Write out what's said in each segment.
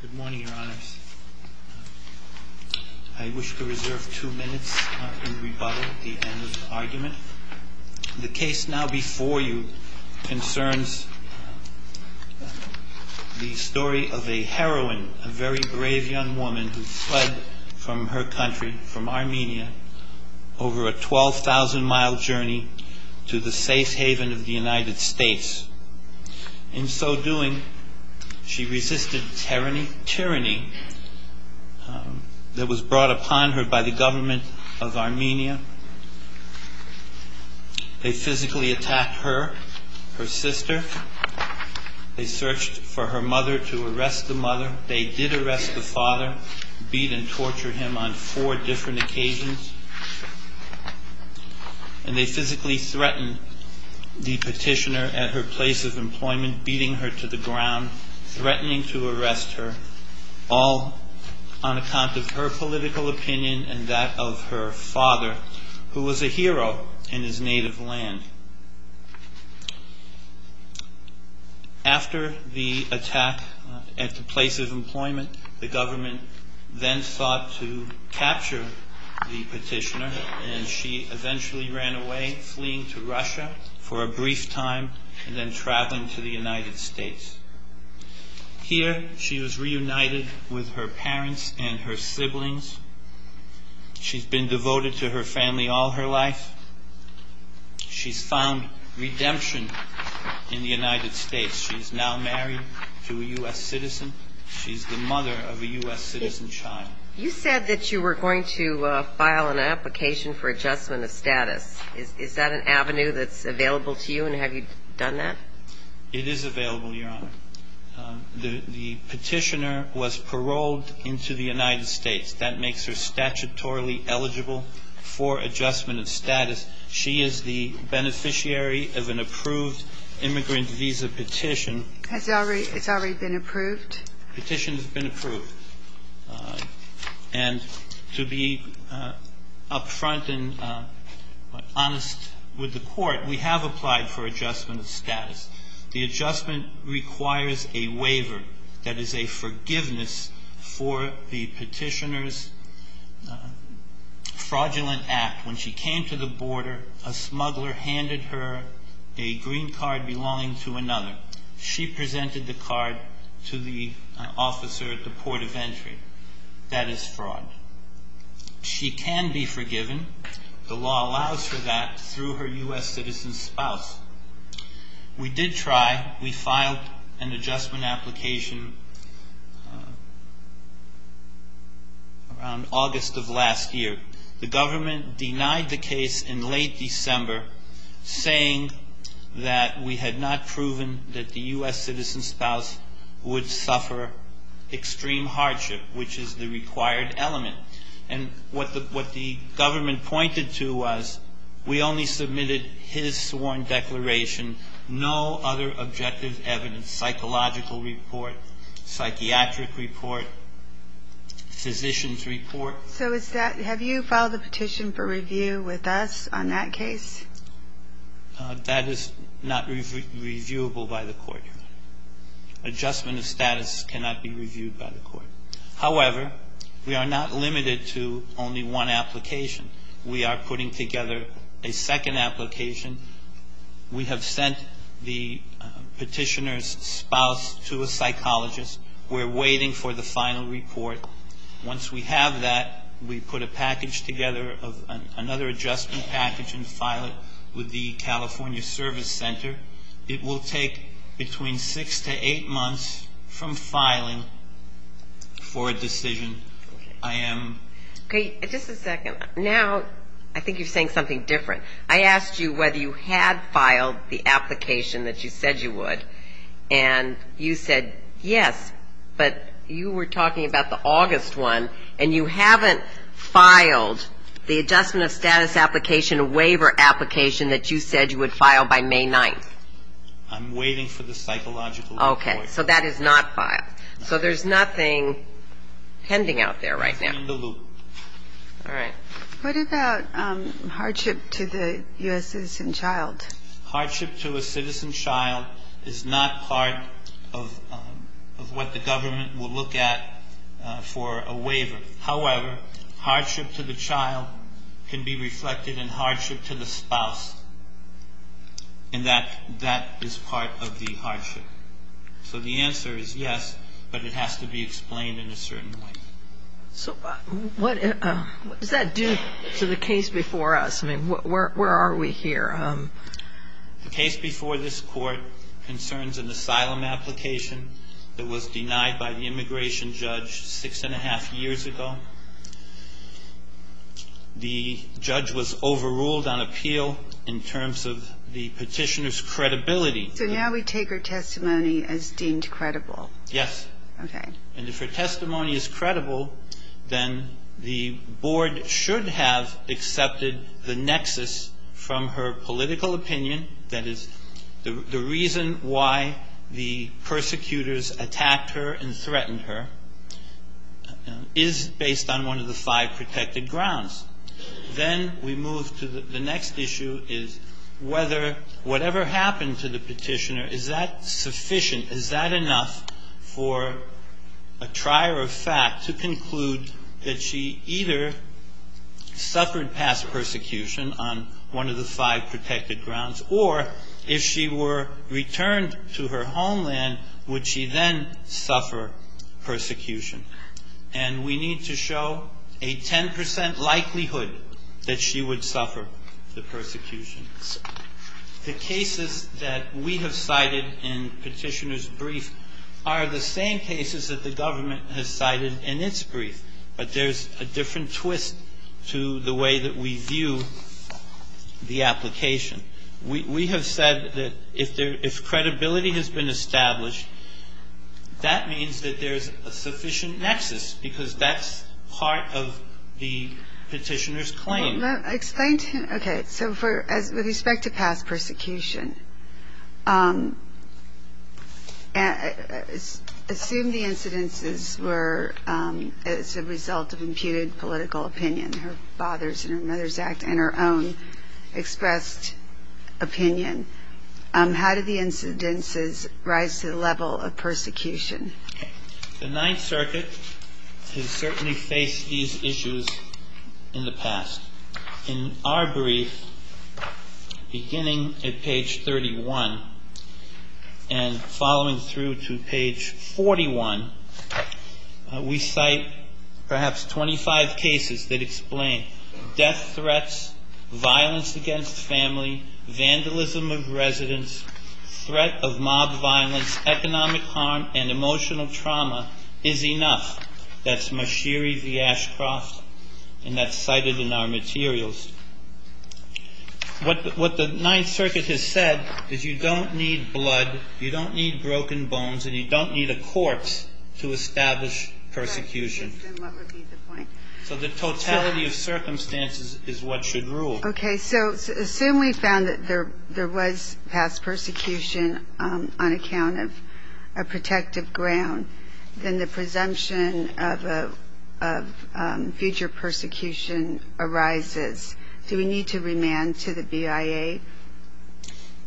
Good morning, Your Honors. I wish to reserve two minutes in rebuttal at the end of the argument. The case now before you concerns the story of a heroine, a very brave young woman who fled from her country, from Armenia, over a 12,000-mile journey to the safe haven of the United States. In so doing, she resisted tyranny that was brought upon her by the government of Armenia. They physically attacked her, her sister. They searched for her mother to arrest the mother. They did arrest the father, beat and torture him on four different occasions. And they physically threatened the petitioner at her place of employment, beating her to the ground, threatening to arrest her, all on account of her political opinion and that of her father, who was a hero in his native land. After the attack at the place of employment, the government then sought to capture the petitioner, and she eventually ran away, fleeing to Russia for a brief time and then traveling to the United States. Here, she was reunited with her parents and her siblings. She's been devoted to her family all her life. She's found redemption in the United States. She's now married to a U.S. citizen. She's the mother of a U.S. citizen child. You said that you were going to file an application for adjustment of status. Is that an avenue that's available to you, and have you done that? It is available, Your Honor. The petitioner was paroled into the United States. That makes her statutorily eligible for adjustment of status. She is the beneficiary of an approved immigrant visa petition. Has it already been approved? The petition has been approved. And to be upfront and honest with the court, we have applied for adjustment of status. The adjustment requires a waiver, that is, a forgiveness for the petitioner's fraudulent act. When she came to the border, a smuggler handed her a green card belonging to another. She presented the card to the officer at the port of entry. That is fraud. She can be forgiven. The law allows for that through her U.S. citizen spouse. We did try. We filed an adjustment application around August of last year. The government denied the case in late December, saying that we had not proven that the U.S. citizen spouse would suffer extreme hardship, which is the required element. And what the government pointed to was we only submitted his sworn declaration, no other objective evidence, psychological report, psychiatric report, physician's report. So have you filed a petition for review with us on that case? That is not reviewable by the court. Adjustment of status cannot be reviewed by the court. However, we are not limited to only one application. We are putting together a second application. We have sent the petitioner's spouse to a psychologist. We're waiting for the final report. Once we have that, we put a package together of another adjustment package and file it with the California Service Center. It will take between six to eight months from filing for a decision. Okay, just a second. Now I think you're saying something different. I asked you whether you had filed the application that you said you would, and you said yes, but you were talking about the August one, and you haven't filed the adjustment of status application waiver application that you said you would file by May 9th. I'm waiting for the psychological report. Okay, so that is not filed. So there's nothing pending out there right now. It's in the loop. All right. What about hardship to the U.S. citizen child? Hardship to a citizen child is not part of what the government will look at for a waiver. However, hardship to the child can be reflected in hardship to the spouse, and that is part of the hardship. So the answer is yes, but it has to be explained in a certain way. So what does that do to the case before us? I mean, where are we here? The case before this Court concerns an asylum application that was denied by the immigration judge six and a half years ago. The judge was overruled on appeal in terms of the petitioner's credibility. So now we take her testimony as deemed credible? Yes. Okay. And if her testimony is credible, then the Board should have accepted the nexus from her political opinion, that is, the reason why the persecutors attacked her and threatened her, is based on one of the five protected grounds. Then we move to the next issue is whether whatever happened to the petitioner, is that sufficient, is that enough for a trier of fact to conclude that she either suffered past persecution on one of the five protected grounds, or if she were returned to her homeland, would she then suffer persecution? And we need to show a 10 percent likelihood that she would suffer the persecution. The cases that we have cited in Petitioner's brief are the same cases that the government has cited in its brief, but there's a different twist to the way that we view the application. We have said that if credibility has been established, that means that there's a sufficient nexus, because that's part of the petitioner's claim. Okay, so with respect to past persecution, assume the incidences were as a result of imputed political opinion, her father's and her mother's act, and her own expressed opinion. How did the incidences rise to the level of persecution? The Ninth Circuit has certainly faced these issues in the past. In our brief, beginning at page 31 and following through to page 41, we cite perhaps 25 cases that explain death threats, violence against family, vandalism of residents, threat of mob violence, economic harm, and emotional trauma is enough. That's Mashiri v. Ashcroft, and that's cited in our materials. What the Ninth Circuit has said is you don't need blood, you don't need broken bones, and you don't need a corpse to establish persecution. So the totality of circumstances is what should rule. Okay, so assume we found that there was past persecution on account of a protective ground, then the presumption of future persecution arises. Do we need to remand to the BIA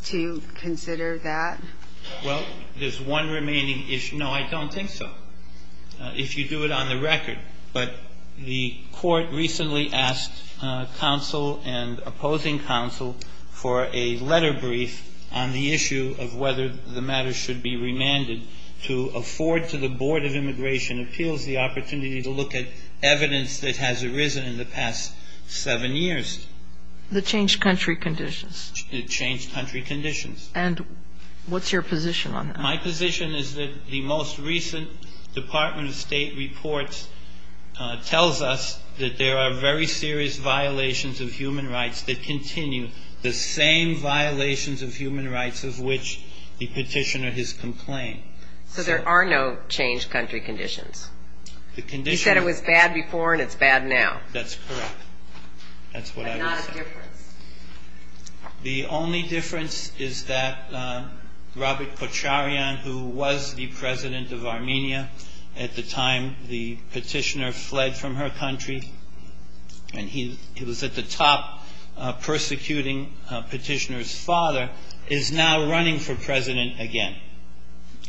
to consider that? Well, there's one remaining issue. No, I don't think so, if you do it on the record. But the Court recently asked counsel and opposing counsel for a letter brief on the issue of whether the matter should be remanded. To afford to the Board of Immigration Appeals the opportunity to look at evidence that has arisen in the past seven years. The changed country conditions. The changed country conditions. And what's your position on that? My position is that the most recent Department of State report tells us that there are very serious violations of human rights that continue, the same violations of human rights of which the petitioner has complained. So there are no changed country conditions? He said it was bad before and it's bad now. That's correct. But not a difference? The only difference is that Robert Pocharian, who was the president of Armenia at the time the petitioner fled from her country, and he was at the top persecuting petitioner's father, is now running for president again.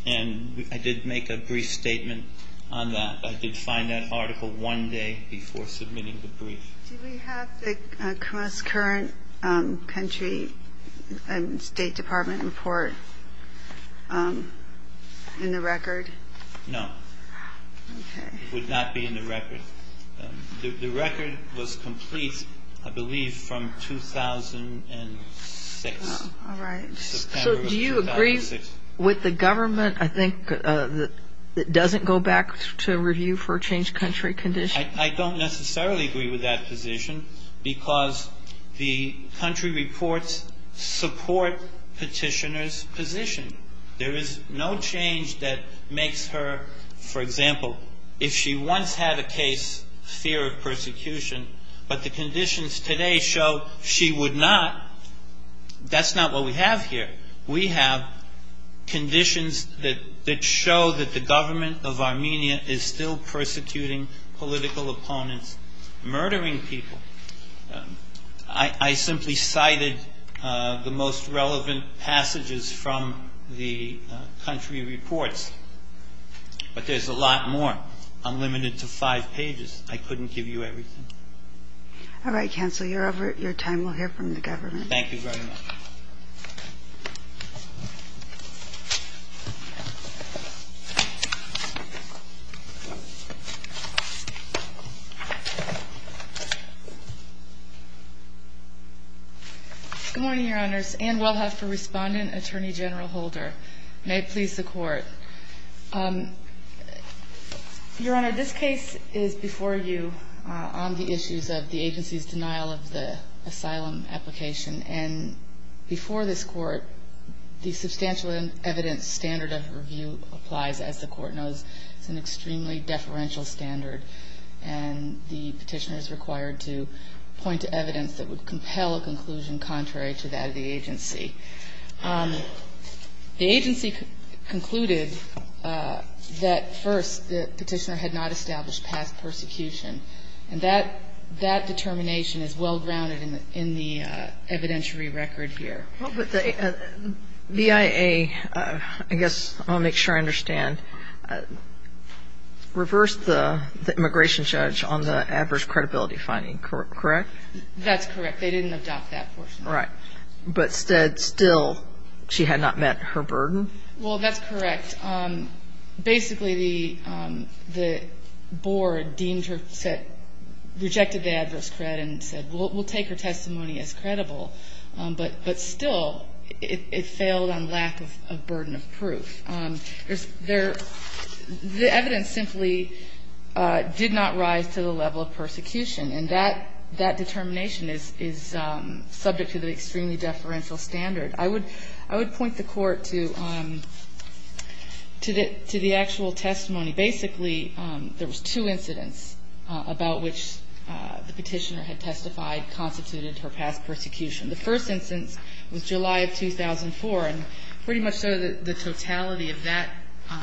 And I did make a brief statement on that. I did find that article one day before submitting the brief. Do we have the current country State Department report in the record? No. Okay. It would not be in the record. The record was complete, I believe, from 2006. All right. September of 2006. So do you agree with the government, I think, that it doesn't go back to review for changed country conditions? I don't necessarily agree with that position because the country reports support petitioner's position. There is no change that makes her, for example, if she once had a case, fear of persecution, but the conditions today show she would not. That's not what we have here. We have conditions that show that the government of Armenia is still persecuting political opponents, murdering people. I simply cited the most relevant passages from the country reports. But there's a lot more. I'm limited to five pages. I couldn't give you everything. All right, counsel. Your time will hear from the government. Thank you very much. Good morning, Your Honors. Anne Welhoff for Respondent, Attorney General Holder. May it please the Court. Your Honor, this case is before you on the issues of the agency's denial of the asylum application. And before this Court, the substantial evidence standard of review applies, as the Court knows. It's an extremely deferential standard. And the petitioner is required to point to evidence that would compel a conclusion contrary to that of the agency. The agency concluded that, first, the petitioner had not established past persecution. And that determination is well-grounded in the evidentiary record here. But the BIA, I guess I'll make sure I understand, reversed the immigration judge on the adverse credibility finding, correct? That's correct. They didn't adopt that portion. Right. But still, she had not met her burden? Well, that's correct. Basically, the board deemed her, rejected the adverse cred and said, we'll take her testimony as credible. But still, it failed on lack of burden of proof. The evidence simply did not rise to the level of persecution. And that determination is subject to the extremely deferential standard. I would point the Court to the actual testimony. Basically, there was two incidents about which the petitioner had testified constituted her past persecution. The first instance was July of 2004. And pretty much the totality of that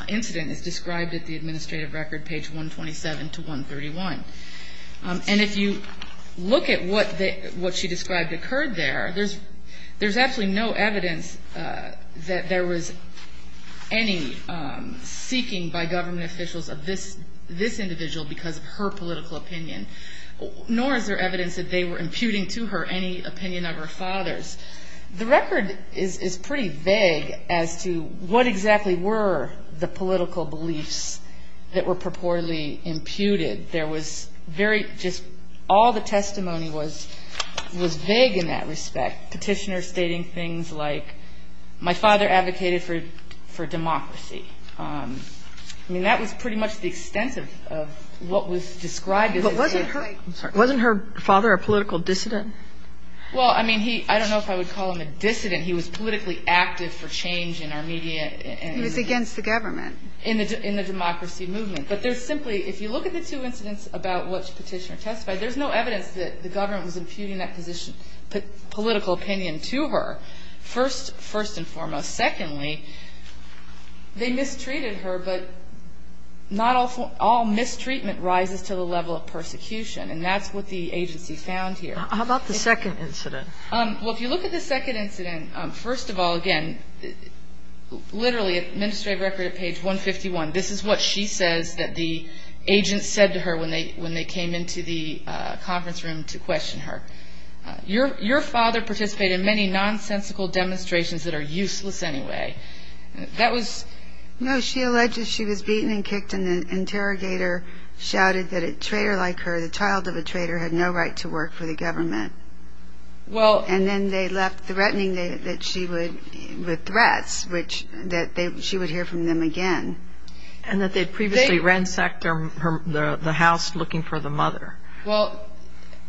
incident is described at the administrative record, page 127 to 131. And if you look at what she described occurred there, there's absolutely no evidence that there was any seeking by government officials of this individual because of her political opinion. Nor is there evidence that they were imputing to her any opinion of her father's. The record is pretty vague as to what exactly were the political beliefs that were purportedly imputed. There was very just all the testimony was vague in that respect. Petitioners stating things like, my father advocated for democracy. I mean, that was pretty much the extent of what was described as an incident. But wasn't her father a political dissident? Well, I mean, I don't know if I would call him a dissident. He was politically active for change in our media. He was against the government. In the democracy movement. But there's simply, if you look at the two incidents about which Petitioner testified, there's no evidence that the government was imputing that position, political opinion to her, first and foremost. Secondly, they mistreated her, but not all mistreatment rises to the level of persecution. And that's what the agency found here. How about the second incident? Well, if you look at the second incident, first of all, again, literally administrative record at page 151. This is what she says that the agent said to her when they came into the conference room to question her. Your father participated in many nonsensical demonstrations that are useless anyway. That was. No, she alleged she was beaten and kicked and the interrogator shouted that a traitor like her, the child of a traitor, had no right to work for the government. Well, and then they left threatening that she would with threats, which that she would hear from them again. And that they'd previously ransacked the house looking for the mother. Well,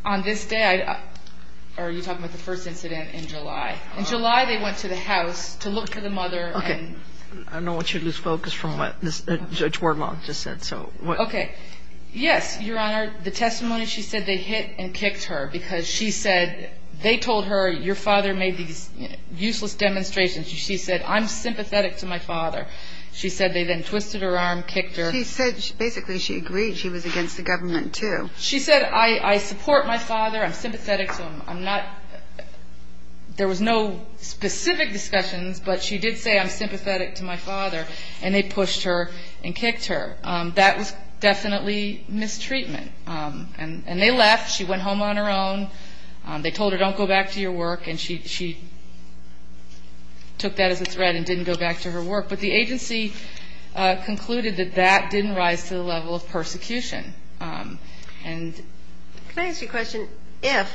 on this day, are you talking about the first incident in July? In July, they went to the house to look for the mother. Okay. I don't want you to lose focus from what Judge Wermont just said. Okay. Yes, Your Honor. The testimony she said they hit and kicked her because she said they told her your father made these useless demonstrations. She said, I'm sympathetic to my father. She said they then twisted her arm, kicked her. She said basically she agreed she was against the government, too. She said, I support my father. I'm sympathetic to him. I'm not. There was no specific discussions, but she did say, I'm sympathetic to my father. And they pushed her and kicked her. That was definitely mistreatment. And they left. She went home on her own. They told her, don't go back to your work. And she took that as a threat and didn't go back to her work. But the agency concluded that that didn't rise to the level of persecution. Can I ask you a question? If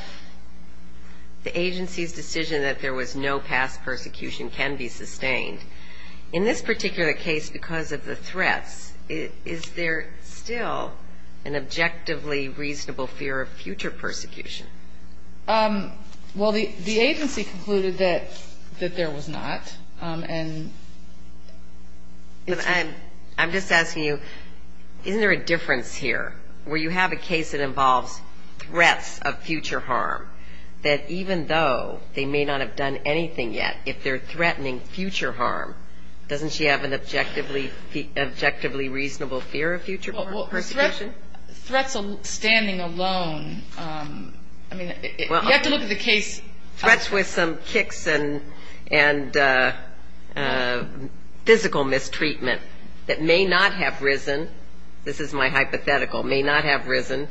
the agency's decision that there was no past persecution can be sustained, in this particular case because of the threats, is there still an objectively reasonable fear of future persecution? Well, the agency concluded that there was not. I'm just asking you, isn't there a difference here where you have a case that involves threats of future harm, that even though they may not have done anything yet, if they're threatening future harm, doesn't she have an objectively reasonable fear of future persecution? Well, threats standing alone, I mean, you have to look at the case. Threats with some kicks and physical mistreatment that may not have risen, this is my hypothetical, may not have risen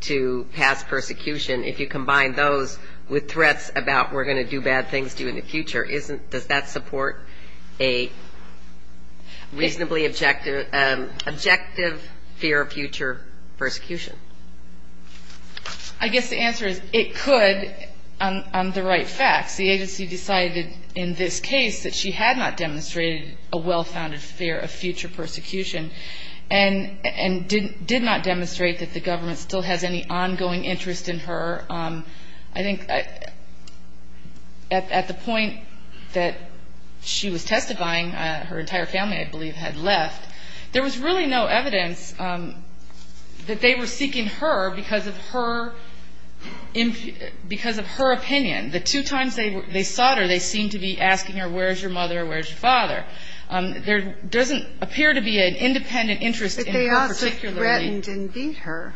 to past persecution. If you combine those with threats about we're going to do bad things to you in the future, does that support a reasonably objective fear of future persecution? I guess the answer is it could on the right facts. The agency decided in this case that she had not demonstrated a well-founded fear of future persecution and did not demonstrate that the government still has any ongoing interest in her. I think at the point that she was testifying, her entire family, I believe, had left. There was really no evidence that they were seeking her because of her opinion. The two times they sought her, they seemed to be asking her, where's your mother, where's your father? There doesn't appear to be an independent interest in her particularly. But they also threatened and beat her.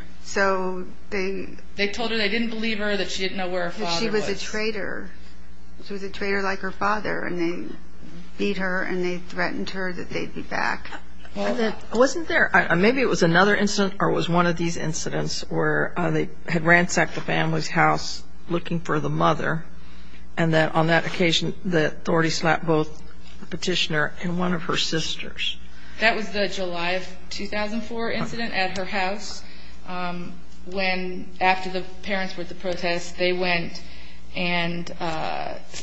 They told her they didn't believe her, that she didn't know where her father was. She was a traitor. She was a traitor like her father, and they beat her, and they threatened her that they'd be back. I wasn't there. Maybe it was another incident or it was one of these incidents where they had ransacked the family's house looking for the mother, and that on that occasion the authority slapped both the petitioner and one of her sisters. That was the July of 2004 incident at her house when, after the parents were at the protest, they went and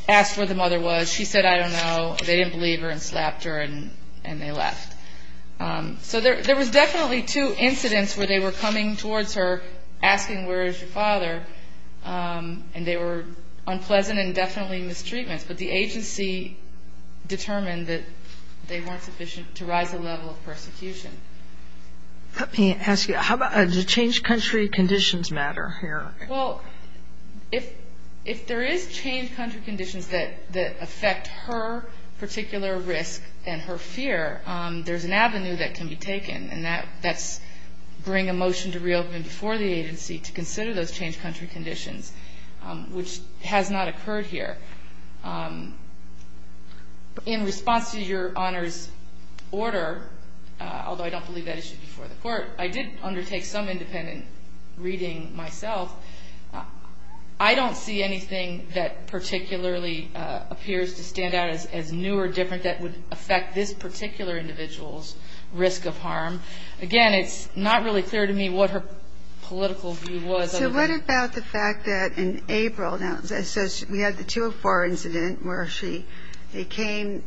asked where the mother was. She said, I don't know. They didn't believe her and slapped her, and they left. So there was definitely two incidents where they were coming towards her asking, where is your father? And they were unpleasant and definitely mistreatments, but the agency determined that they weren't sufficient to rise the level of persecution. Let me ask you, does change country conditions matter here? Well, if there is change country conditions that affect her particular risk and her fear, there's an avenue that can be taken, and that's bring a motion to reopen before the agency to consider those change country conditions, which has not occurred here. In response to your Honor's order, although I don't believe that issue before the court, I did undertake some independent reading myself. I don't see anything that particularly appears to stand out as new or different that would affect this particular individual's risk of harm. Again, it's not really clear to me what her political view was. So what about the fact that in April, we had the 204 incident where she came,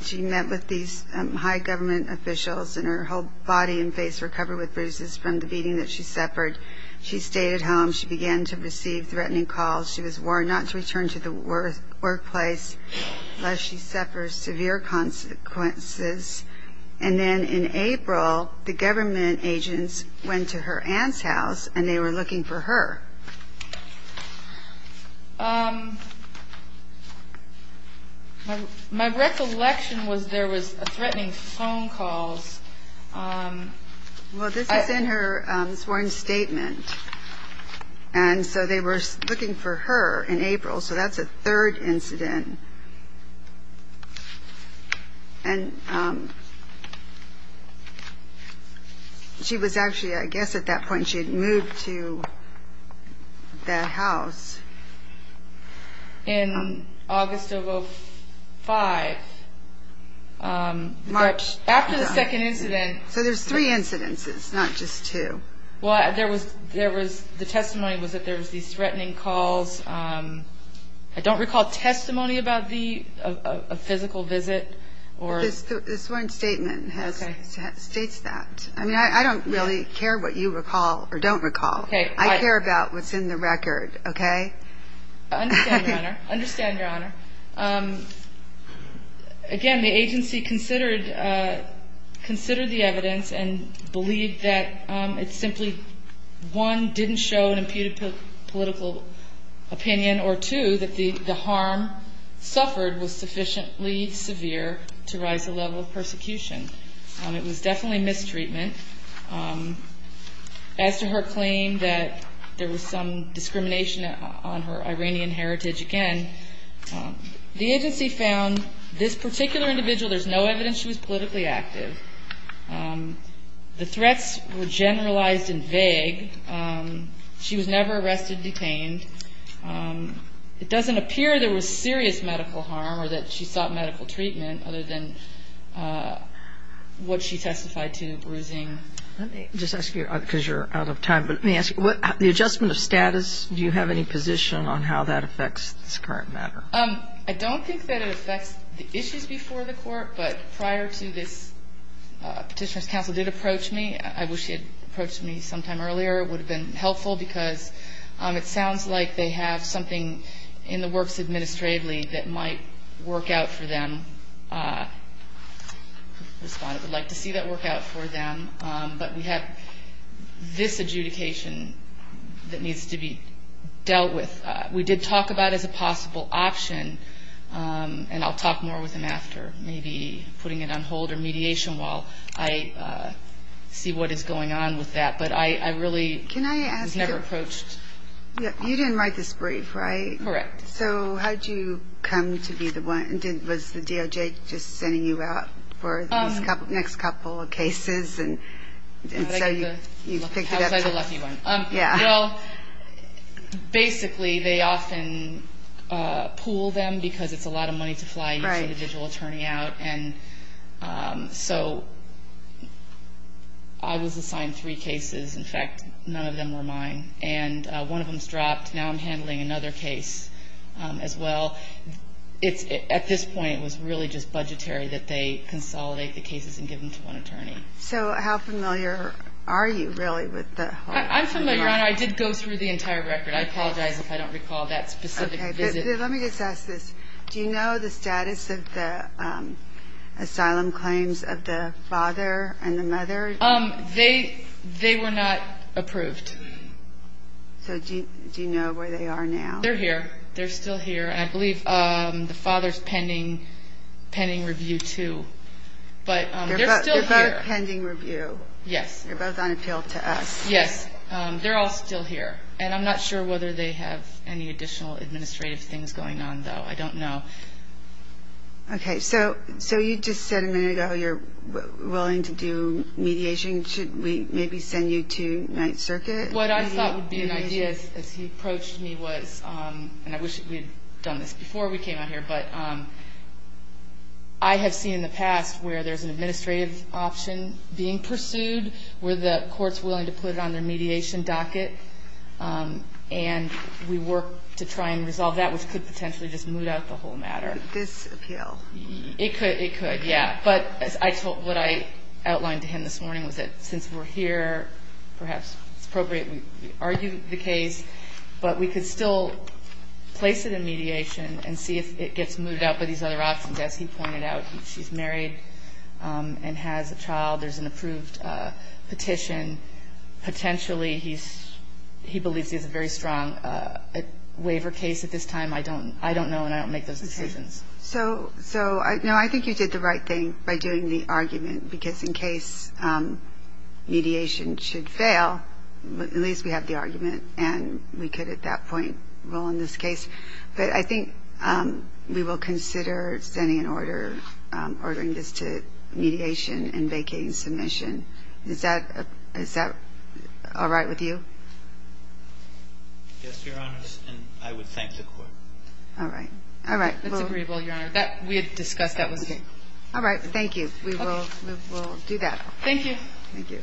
she met with these high government officials, and her whole body and face were covered with bruises from the beating that she suffered. She stayed at home. She began to receive threatening calls. She was warned not to return to the workplace unless she suffers severe consequences. And then in April, the government agents went to her aunt's house, and they were looking for her. My recollection was there was threatening phone calls. Well, this is in her sworn statement. And so they were looking for her in April. So that's a third incident. And she was actually, I guess at that point, she had moved to the house. In August of 2005, after the second incident. So there's three incidences, not just two. Well, the testimony was that there was these threatening calls. I don't recall testimony about a physical visit. This sworn statement states that. I mean, I don't really care what you recall or don't recall. I care about what's in the record, okay? I understand, Your Honor. I understand, Your Honor. Again, the agency considered the evidence and believed that it simply, one, didn't show an imputed political opinion, or two, that the harm suffered was sufficiently severe to rise the level of persecution. It was definitely mistreatment. As to her claim that there was some discrimination on her Iranian heritage, again, the agency found this particular individual, there's no evidence she was politically active. The threats were generalized and vague. She was never arrested, detained. It doesn't appear there was serious medical harm or that she sought medical treatment, other than what she testified to, bruising. Let me just ask you, because you're out of time, but let me ask you, the adjustment of status, do you have any position on how that affects this current matter? I don't think that it affects the issues before the Court, but prior to this, Petitioner's counsel did approach me. I wish he had approached me sometime earlier. It would have been helpful because it sounds like they have something in the works administratively that might work out for them. Respondent would like to see that work out for them. But we have this adjudication that needs to be dealt with. We did talk about it as a possible option, and I'll talk more with him after, maybe putting it on hold or mediation while I see what is going on with that. But I really was never approached. You didn't write this brief, right? Correct. So how did you come to be the one? Was the DOJ just sending you out for the next couple of cases? How was I the lucky one? Yeah. Well, basically they often pool them because it's a lot of money to fly each individual attorney out, and so I was assigned three cases. In fact, none of them were mine. And one of them is dropped. Now I'm handling another case as well. At this point, it was really just budgetary that they consolidate the cases and give them to one attorney. So how familiar are you really with the whole thing? I'm familiar, Your Honor. I did go through the entire record. I apologize if I don't recall that specific visit. Okay. Let me just ask this. Do you know the status of the asylum claims of the father and the mother? They were not approved. So do you know where they are now? They're here. They're still here. And I believe the father's pending review, too. But they're still here. They're both pending review. Yes. They're both on appeal to us. Yes. They're all still here. And I'm not sure whether they have any additional administrative things going on, though. I don't know. Okay. So you just said a minute ago you're willing to do mediation. Should we maybe send you to Ninth Circuit? What I thought would be an idea as he approached me was, and I wish we had done this before we came out here, but I have seen in the past where there's an administrative option being pursued, where the court's willing to put it on their mediation docket, and we work to try and resolve that, which could potentially just moot out the whole matter. This appeal? It could. It could, yeah. But what I outlined to him this morning was that since we're here, perhaps it's appropriate we argue the case, but we could still place it in mediation and see if it gets moved out by these other options. As he pointed out, she's married and has a child. There's an approved petition. Potentially he believes he has a very strong waiver case at this time. I don't know, and I don't make those decisions. Okay. So, no, I think you did the right thing by doing the argument, because in case mediation should fail, at least we have the argument, and we could at that point rule in this case. But I think we will consider sending an order, ordering this to mediation and vacating submission. Is that all right with you? Yes, Your Honors, and I would thank the court. All right. That's agreeable, Your Honor. We had discussed that with you. All right. Thank you. We will do that. Thank you. Thank you.